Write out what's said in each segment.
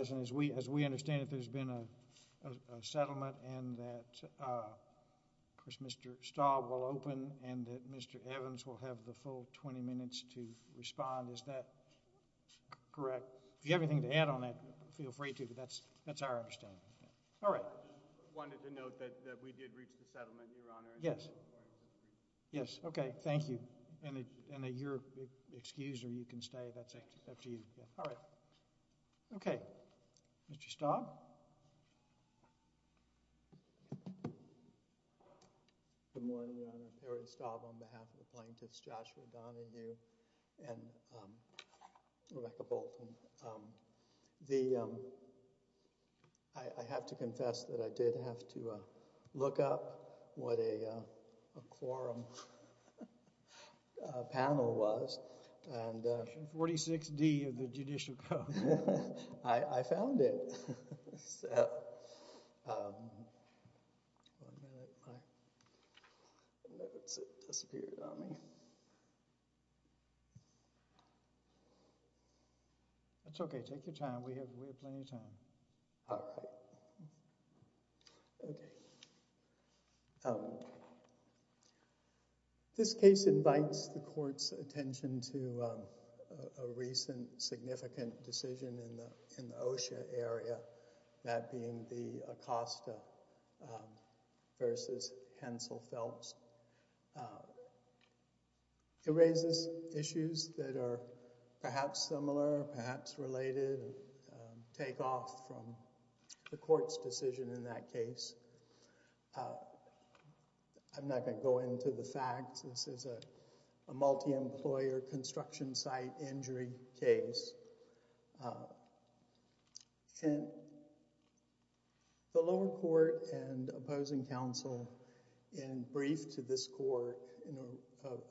As we understand it, there has been a settlement and that Mr. Staub will open and that Mr. Evans will have the full 20 minutes to respond. Is that correct? If you have anything to add on that, feel free to, but that's our understanding. I just wanted to note that we did reach the settlement, Your Honor. Yes. Yes, okay. Thank you. And you're excused or you can stay. That's up to you. All right. Okay. Mr. Staub? Good morning, Your Honor. Harry Staub on behalf of the plaintiffs, Joshua Donahue and Rebecca Bolton. I have to confess that I did have to look up what a quorum panel was and... Section 46D of the Judicial Code. I found it. One minute. It disappeared on me. That's okay. Take your time. We have plenty of time. All right. Okay. This case invites the court's attention to a recent significant decision in the OSHA area, that being the Acosta versus Hensel Phelps. It raises issues that are perhaps similar, perhaps related, take off from the court's decision in that case. I'm not going to go into the facts. This is a multi-employer construction site injury case. The lower court and opposing counsel, in brief to this court,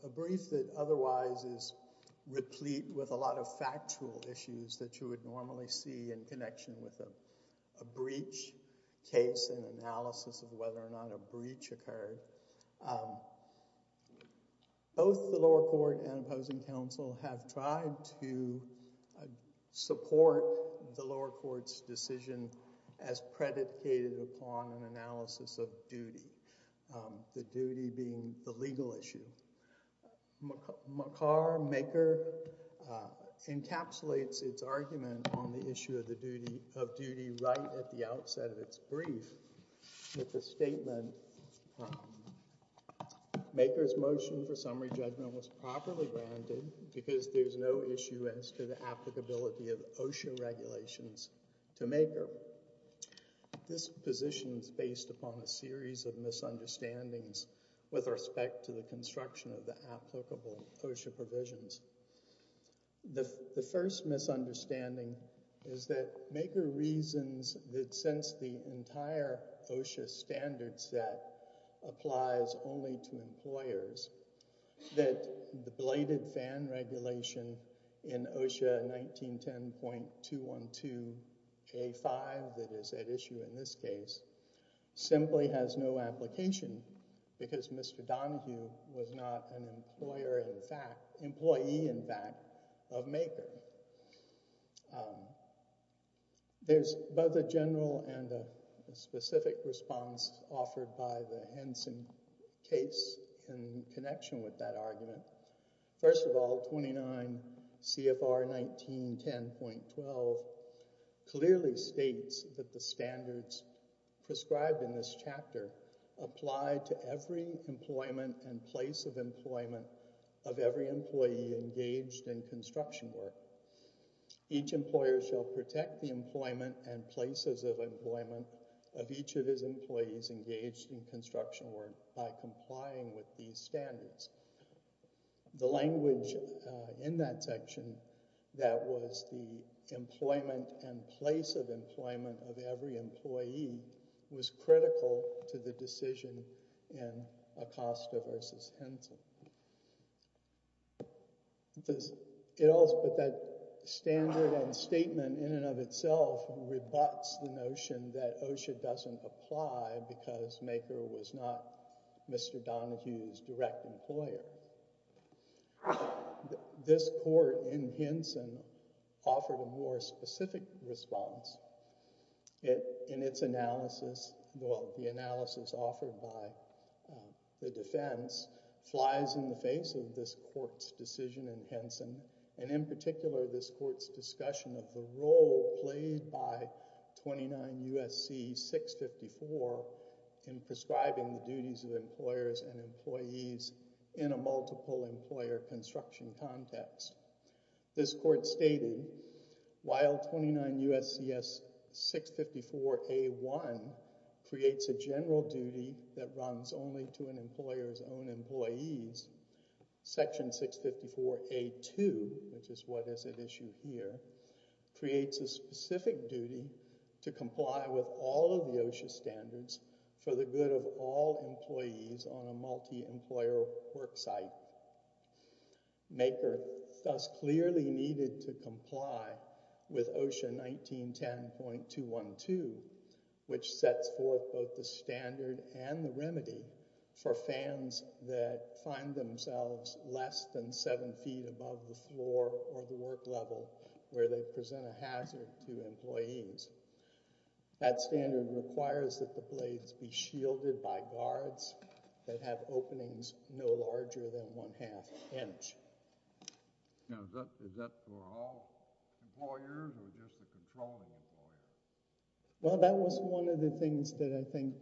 a brief that otherwise is replete with a lot of factual issues that you would normally see in connection with a breach case and analysis of whether or not a breach occurred. Both the lower court and opposing counsel have tried to support the lower court's decision as predicated upon an analysis of duty, the duty being the legal issue. Macar, MAKER, encapsulates its argument on the issue of duty right at the outset of its brief with the statement, MAKER's motion for summary judgment was properly granted because there's no issue as to the applicability of OSHA regulations to MAKER. This position is based upon a series of misunderstandings with respect to the construction of the applicable OSHA provisions. The first misunderstanding is that MAKER reasons that since the entire OSHA standard set applies only to employers, that the bladed fan regulation in OSHA 1910.212A5 that is at issue in this case simply has no application because Mr. Donahue was not an employee, in fact, of MAKER. There's both a general and a specific response offered by the Henson case in connection with that argument. First of all, 29 CFR 1910.12 clearly states that the standards prescribed in this chapter apply to every employment and place of employment of every employee engaged in construction work. Each employer shall protect the employment and places of employment of each of his employees engaged in construction work by complying with these standards. The language in that section that was the employment and place of employment of every employee was critical to the decision in Acosta v. Henson. But that standard and statement in and of itself rebuts the notion that OSHA doesn't apply because MAKER was not Mr. Donahue's direct employer. This court in Henson offered a more specific response in its analysis. The analysis offered by the defense flies in the face of this court's decision in Henson and in particular this court's discussion of the role played by 29 U.S.C. 654 in prescribing the duties of employers and employees in a multiple employer construction context. This court stated while 29 U.S.C. 654 A.1 creates a general duty that runs only to an employer's own employees, section 654 A.2, which is what is at issue here, creates a specific duty to comply with all of the OSHA standards for the good of all employees on a multi-employer work site. MAKER thus clearly needed to comply with OSHA 1910.212, which sets forth both the standard and the remedy for fans that find themselves less than seven feet above the floor or the work level where they present a hazard to employees. That standard requires that the blades be shielded by guards that have openings no larger than one-half inch. Is that for all employers or just the controlling employers? Well, that was one of the things that I think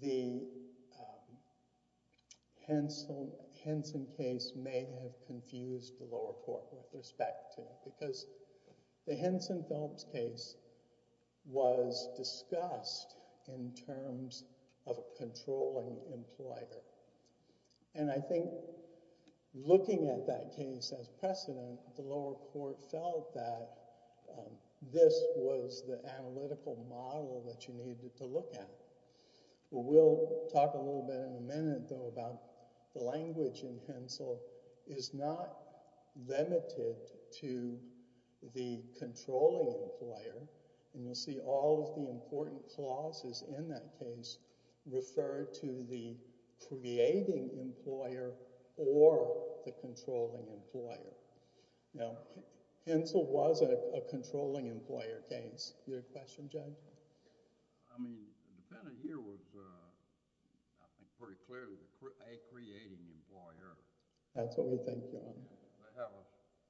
the Henson case may have confused the lower court with respect to because the Henson-Phelps case was discussed in terms of controlling employer. And I think looking at that case as precedent, the lower court felt that this was the analytical model that you needed to look at. We'll talk a little bit in a minute, though, about the language in Hensel is not limited to the controlling employer. And you'll see all of the important clauses in that case refer to the creating employer or the controlling employer. Now, Hensel was a controlling employer case. Do you have a question, Judge? I mean, the defendant here was, I think, pretty clearly a creating employer. That's what we think, Your Honor. They have a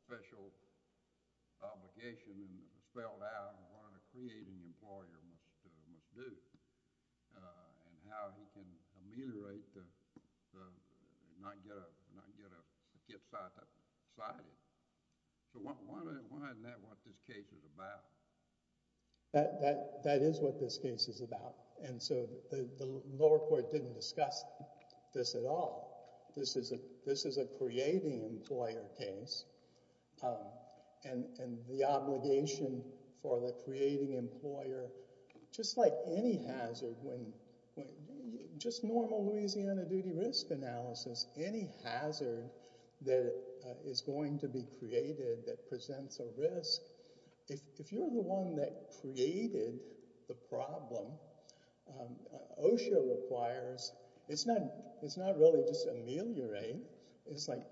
special obligation and it was spelled out what a creating employer must do and how he can ameliorate the non-get-out society. So why isn't that what this case is about? That is what this case is about. And so the lower court didn't discuss this at all. This is a creating employer case. And the obligation for the creating employer, just like any hazard, just normal Louisiana duty risk analysis, any hazard that is going to be created that presents a risk, if you're the one that created the problem, OSHA requires – it's not really just ameliorate. It's like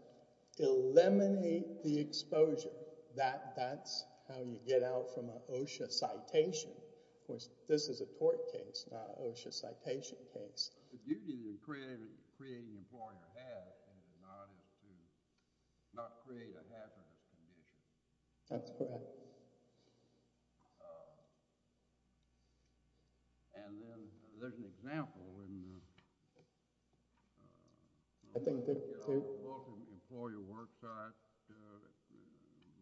eliminate the exposure. That's how you get out from an OSHA citation. Of course, this is a tort case, not an OSHA citation case. The duty that creating employer has and does not is to not create a hazardous condition. That's correct. And then there's an example in the – I think there's two. In your book, Employer Worksites,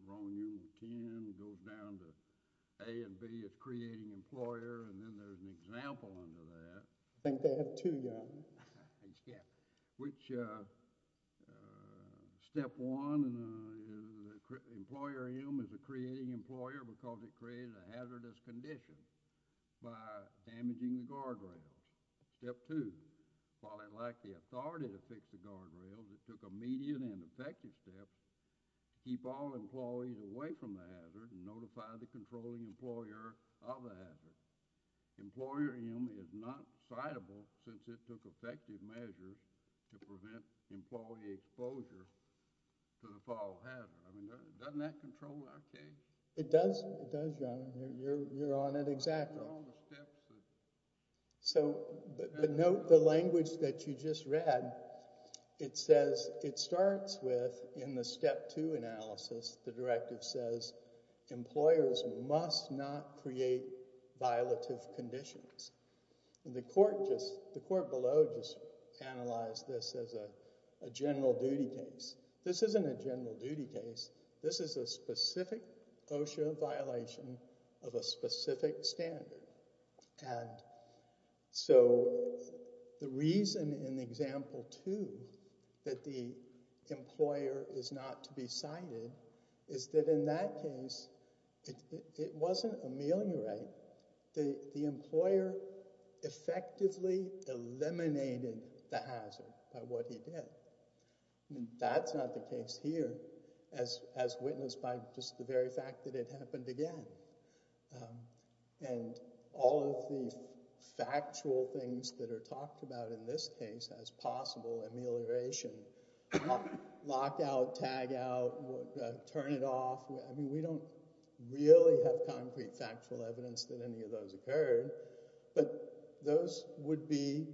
Ron, you can go down to A and B as creating employer, and then there's an example under that. I think they have two, yeah. I think so. Which – step one, employer is a creating employer because it created a hazardous condition by damaging the guardrails. Step two, while it lacked the authority to fix the guardrails, it took a median and effective step to keep all employees away from the hazard and notify the controlling employer of the hazard. Employer, you know, is not citable since it took effective measures to prevent employee exposure to the fall hazard. I mean, doesn't that control our case? It does. It does, John. You're on it exactly. So note the language that you just read. It says – it starts with, in the step two analysis, the directive says employers must not create violative conditions. The court just – the court below just analyzed this as a general duty case. This isn't a general duty case. This is a specific OSHA violation of a specific standard. And so the reason in example two that the employer is not to be cited is that in that case, it wasn't a mailing right. The employer effectively eliminated the hazard by what he did. That's not the case here as witnessed by just the very fact that it happened again. And all of the factual things that are talked about in this case as possible amelioration, lock out, tag out, turn it off. I mean, we don't really have concrete factual evidence that any of those occurred. But those would be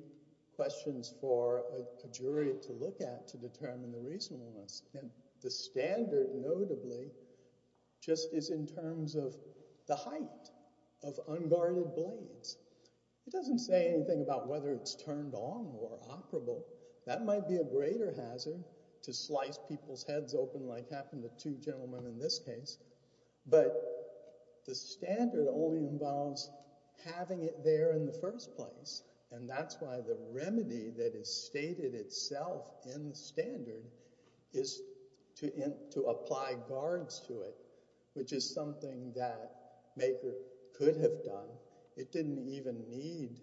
questions for a jury to look at to determine the reasonableness. And the standard notably just is in terms of the height of unguarded blades. It doesn't say anything about whether it's turned on or operable. That might be a greater hazard to slice people's heads open like happened to two gentlemen in this case. But the standard only involves having it there in the first place. And that's why the remedy that is stated itself in the standard is to apply guards to it, which is something that MAKER could have done. It didn't even need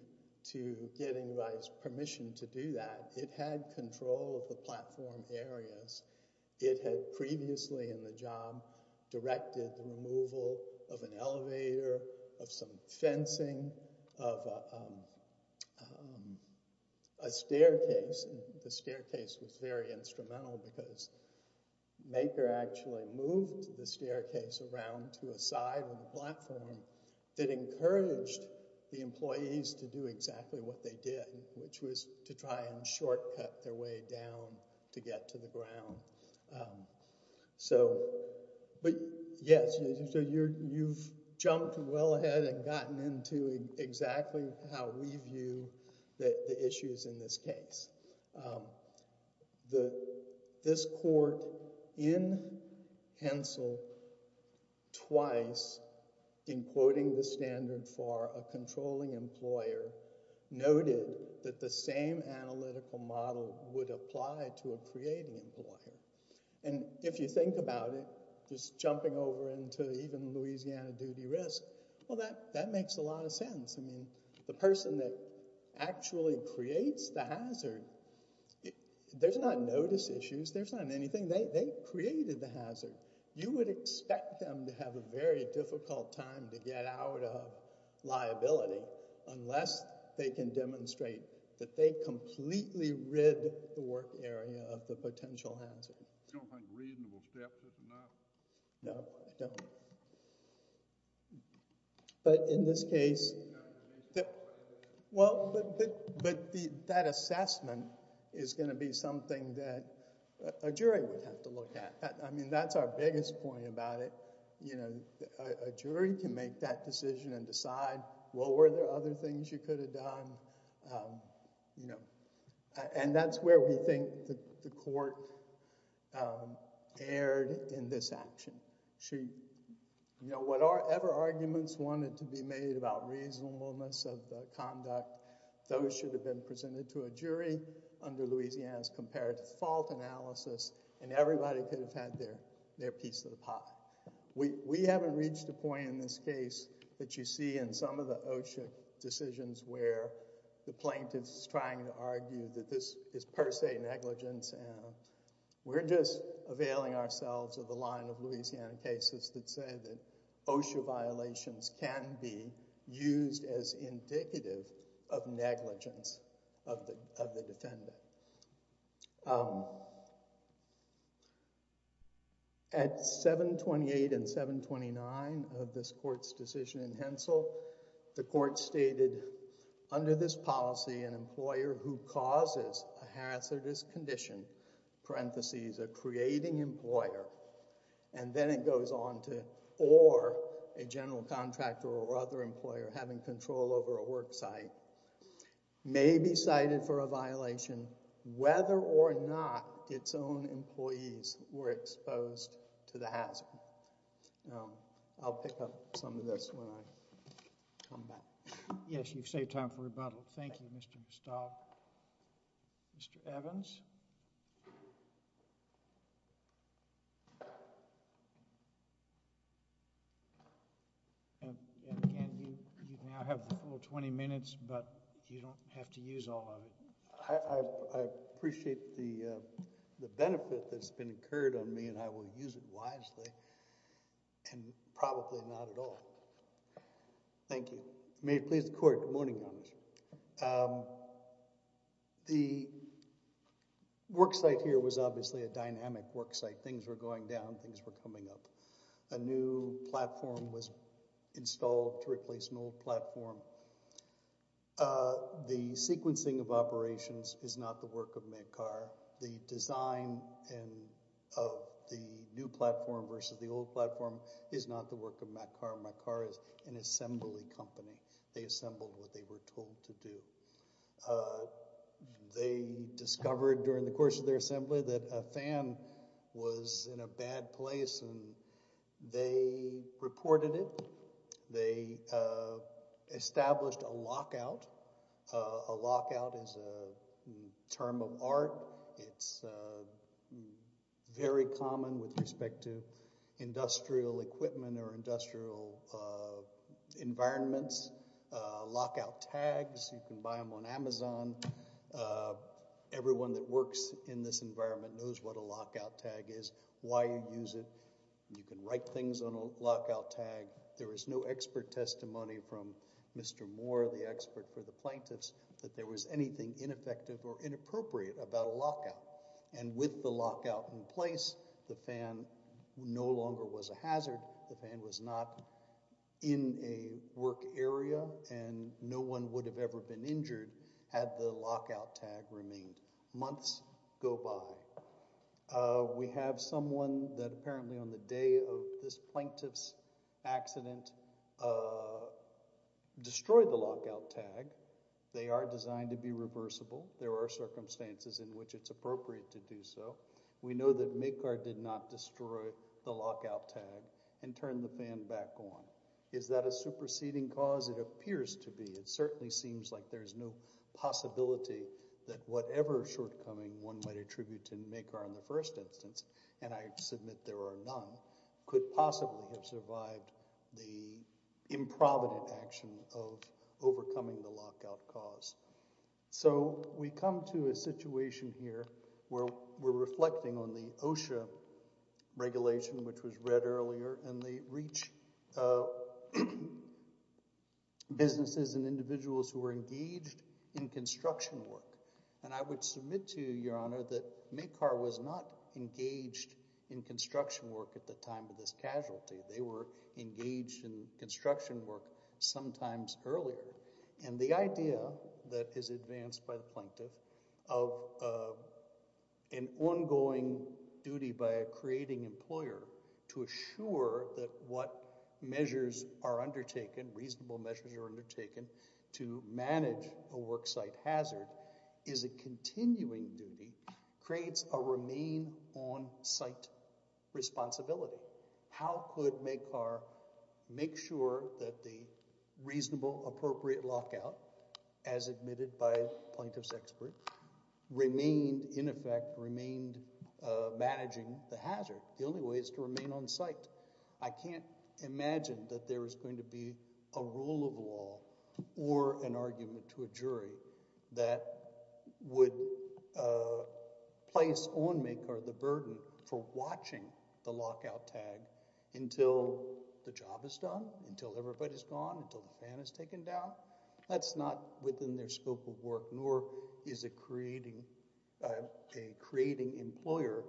to get anybody's permission to do that. It had control of the platform areas. It had previously in the job directed the removal of an elevator, of some fencing, of a staircase. The staircase was very instrumental because MAKER actually moved the staircase around to a side of the platform that encouraged the employees to do exactly what they did, which was to try and shortcut their way down to get to the ground. So yes, you've jumped well ahead and gotten into exactly how we view the issues in this case. This court in Hensel, twice in quoting the standard for a controlling employer, noted that the same analytical model would apply to a creating employer. And if you think about it, just jumping over into even Louisiana duty risk, well, that makes a lot of sense. I mean, the person that actually creates the hazard, there's not notice issues. There's not anything. They created the hazard. You would expect them to have a very difficult time to get out of liability unless they can demonstrate that they completely rid the work area of the potential hazard. I don't think reasonable steps are enough. No, I don't. But in this case, that assessment is going to be something that a jury would have to look at. I mean, that's our biggest point about it. A jury can make that decision and decide, well, were there other things you could have done? And that's where we think the court erred in this action. Whatever arguments wanted to be made about reasonableness of the conduct, those should have been presented to a jury under Louisiana's comparative fault analysis, and everybody could have had their piece of the pie. We haven't reached a point in this case that you see in some of the OSHA decisions where the plaintiff's trying to argue that this is per se negligence. We're just availing ourselves of the line of Louisiana cases that say that OSHA violations can be used as indicative of negligence of the defendant. At 728 and 729 of this court's decision in Hensel, the court stated, under this policy, an employer who causes a hazardous condition, parentheses, a creating employer, and then it goes on to or a general contractor or other employer having control over a work site, may be cited for a violation. Whether or not its own employees were exposed to the hazard. I'll pick up some of this when I come back. Yes, you've saved time for rebuttal. Thank you, Mr. Vestal. Mr. Evans? And again, you now have the full 20 minutes, but you don't have to use all of it. I appreciate the benefit that's been incurred on me, and I will use it wisely. And probably not at all. Thank you. May it please the court, good morning, Your Honor. The work site here was obviously a dynamic work site. Things were going down, things were coming up. A new platform was installed to replace an old platform. The sequencing of operations is not the work of Macar. The design of the new platform versus the old platform is not the work of Macar. Macar is an assembly company. They assembled what they were told to do. They discovered during the course of their assembly that a fan was in a bad place, and they reported it. They established a lockout. A lockout is a term of art. It's very common with respect to industrial equipment or industrial environments. Lockout tags, you can buy them on Amazon. Everyone that works in this environment knows what a lockout tag is, why you use it. You can write things on a lockout tag. There was no expert testimony from Mr. Moore, the expert for the plaintiffs, that there was anything ineffective or inappropriate about a lockout. And with the lockout in place, the fan no longer was a hazard. The fan was not in a work area, and no one would have ever been injured had the lockout tag remained. Months go by. We have someone that apparently on the day of this plaintiff's accident destroyed the lockout tag. They are designed to be reversible. There are circumstances in which it's appropriate to do so. We know that Macar did not destroy the lockout tag and turn the fan back on. Is that a superseding cause? It appears to be. It certainly seems like there's no possibility that whatever shortcoming one might attribute to Macar in the first instance, and I submit there are none, could possibly have survived the improvident action of overcoming the lockout cause. So we come to a situation here where we're reflecting on the OSHA regulation, which was read earlier, and they reach businesses and individuals who were engaged in construction work. And I would submit to you, Your Honor, that Macar was not engaged in construction work at the time of this casualty. They were engaged in construction work sometimes earlier. And the idea that is advanced by the plaintiff of an ongoing duty by a creating employer to assure that what measures are undertaken, reasonable measures are undertaken to manage a worksite hazard is a continuing duty creates a remain-on-site responsibility. How could Macar make sure that the reasonable, appropriate lockout, as admitted by plaintiff's experts, remained in effect, remained managing the hazard? The only way is to remain on site. I can't imagine that there is going to be a rule of law or an argument to a jury that would place on Macar the burden for watching the lockout tag until the job is done, until everybody's gone, until the fan is taken down. That's not within their scope of work, nor is a creating employer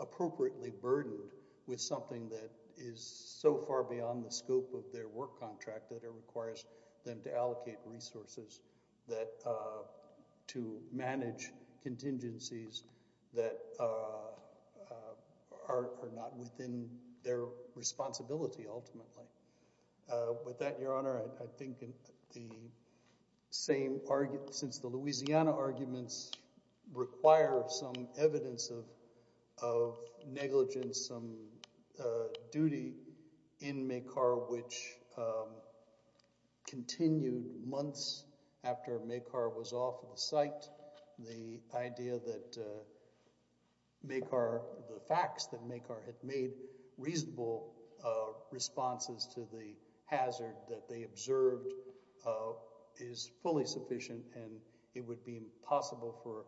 appropriately burdened with something that is so far beyond the scope of their work contract that it requires them to allocate resources to manage contingencies that are not within their responsibility ultimately. With that, Your Honor, I think since the Louisiana arguments require some evidence of negligence, some duty in Macar, which continued months after Macar was off the site, the idea that Macar, the facts that Macar had made reasonable responses to the hazard that they observed is fully sufficient and it would be impossible for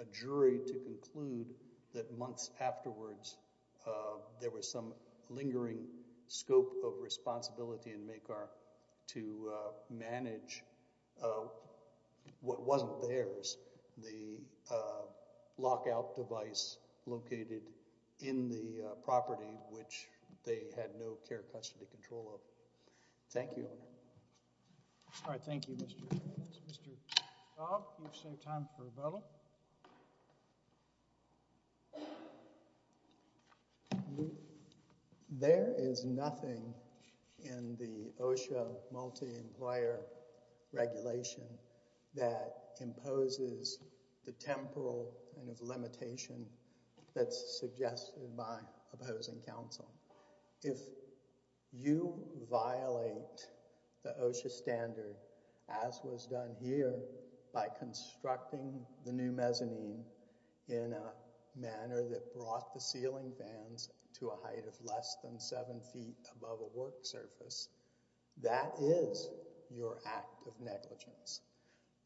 a jury to conclude that months afterwards there was some lingering scope of responsibility in Macar to manage what wasn't theirs, the lockout device located in the property which they had no care custody control of. Thank you, Your Honor. All right, thank you, Mr. Evans. Mr. Cobb, you've saved time for rebuttal. There is nothing in the OSHA multi-employer regulation that imposes the temporal limitation that's suggested by opposing counsel. If you violate the OSHA standard as was done here by constructing the new mezzanine in a manner that brought the ceiling fans to a height of less than seven feet above a work surface, that is your act of negligence.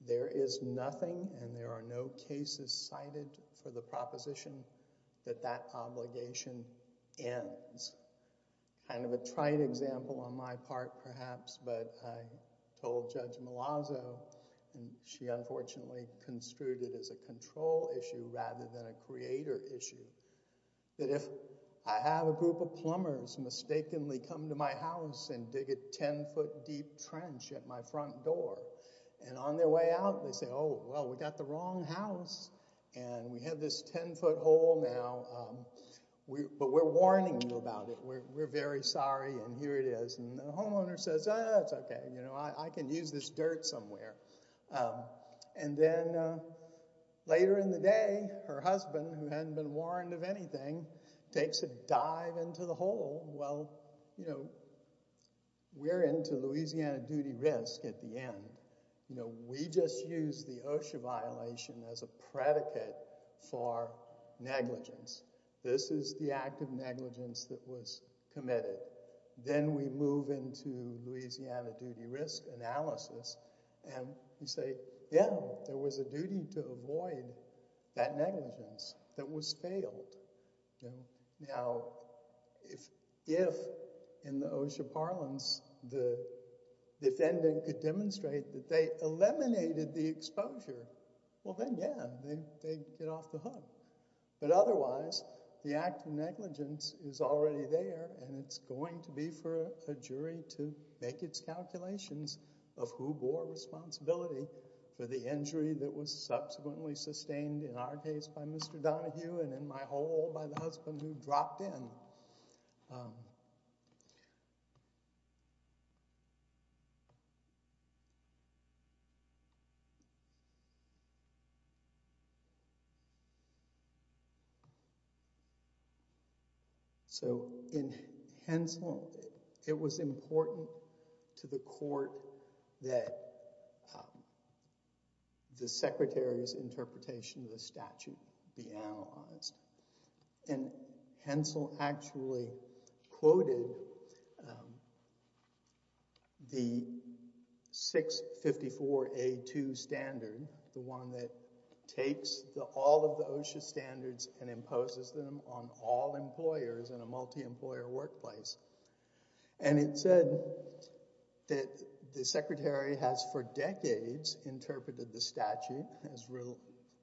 There is nothing and there are no cases cited for the proposition that that obligation ends. Kind of a trite example on my part perhaps, but I told Judge Malazzo, and she unfortunately construed it as a control issue rather than a creator issue, that if I have a group of plumbers mistakenly come to my house and dig a 10-foot deep trench at my front door and on their way out they say, oh, well, we got the wrong house and we have this 10-foot hole now, but we're warning you about it. We're very sorry and here it is. And the homeowner says, oh, that's okay. I can use this dirt somewhere. And then later in the day her husband, who hadn't been warned of anything, takes a dive into the hole. Well, we're into Louisiana duty risk at the end. We just used the OSHA violation as a predicate for negligence. This is the act of negligence that was committed. Then we move into Louisiana duty risk analysis and we say, yeah, there was a duty to avoid that negligence that was failed. Now, if in the OSHA parlance the defendant could demonstrate that they eliminated the exposure, well, then, yeah, they get off the hook. But otherwise, the act of negligence is already there and it's going to be for a jury to make its calculations of who bore responsibility for the injury that was subsequently sustained in our case by Mr. Donahue and in my hole by the husband who dropped in. So in Hensel, it was important to the court that the secretary's interpretation of the statute be analyzed. And Hensel actually quoted the 654A2 standard, the one that takes all of the OSHA standards and imposes them on all employers in a multi-employer workplace. And it said that the secretary has for decades interpreted the statute as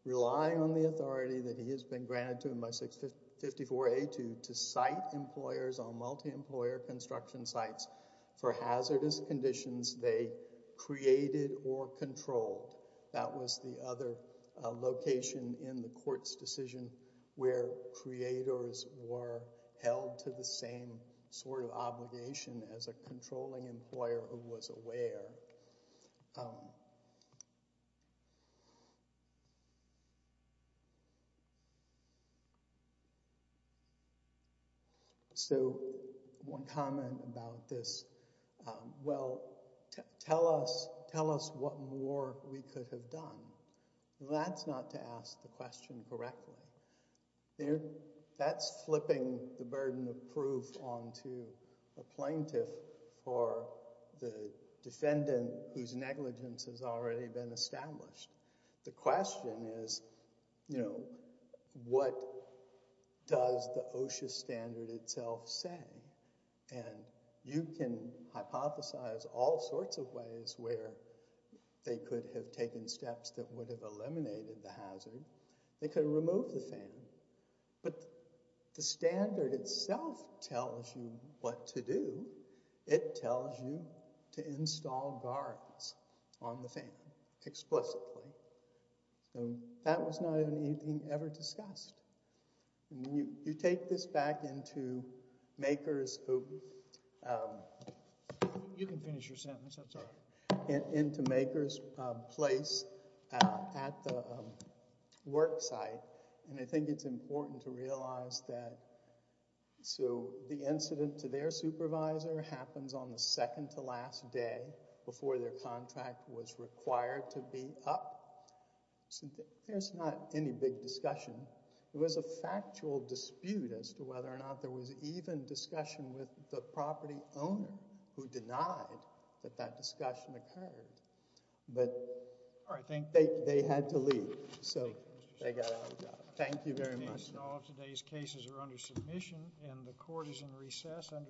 relying on the authority that he has been granted to him by 654A2 to cite employers on multi-employer construction sites for hazardous conditions they created or controlled. That was the other location in the court's decision where creators were held to the same sort of obligation as a controlling employer who was aware. So one comment about this, well, tell us what more we could have done. That's not to ask the question correctly. That's flipping the burden of proof onto a plaintiff for the defendant whose negligence has already been established. The question is, you know, what does the OSHA standard itself say? And you can hypothesize all sorts of ways where they could have taken steps that would have eliminated the hazard. They could have removed the fan. But the standard itself tells you what to do. It tells you to install guards on the fan explicitly. So that was not anything ever discussed. You take this back into maker's place at the work site. And I think it's important to realize that so the incident to their supervisor happens on the second to last day before their contract was required to be up. So there's not any big discussion. It was a factual dispute as to whether or not there was even discussion with the property owner who denied that that discussion occurred. But they had to leave. So they got out of the job. Thank you very much. All of today's cases are under submission and the court is in recess under the usual order.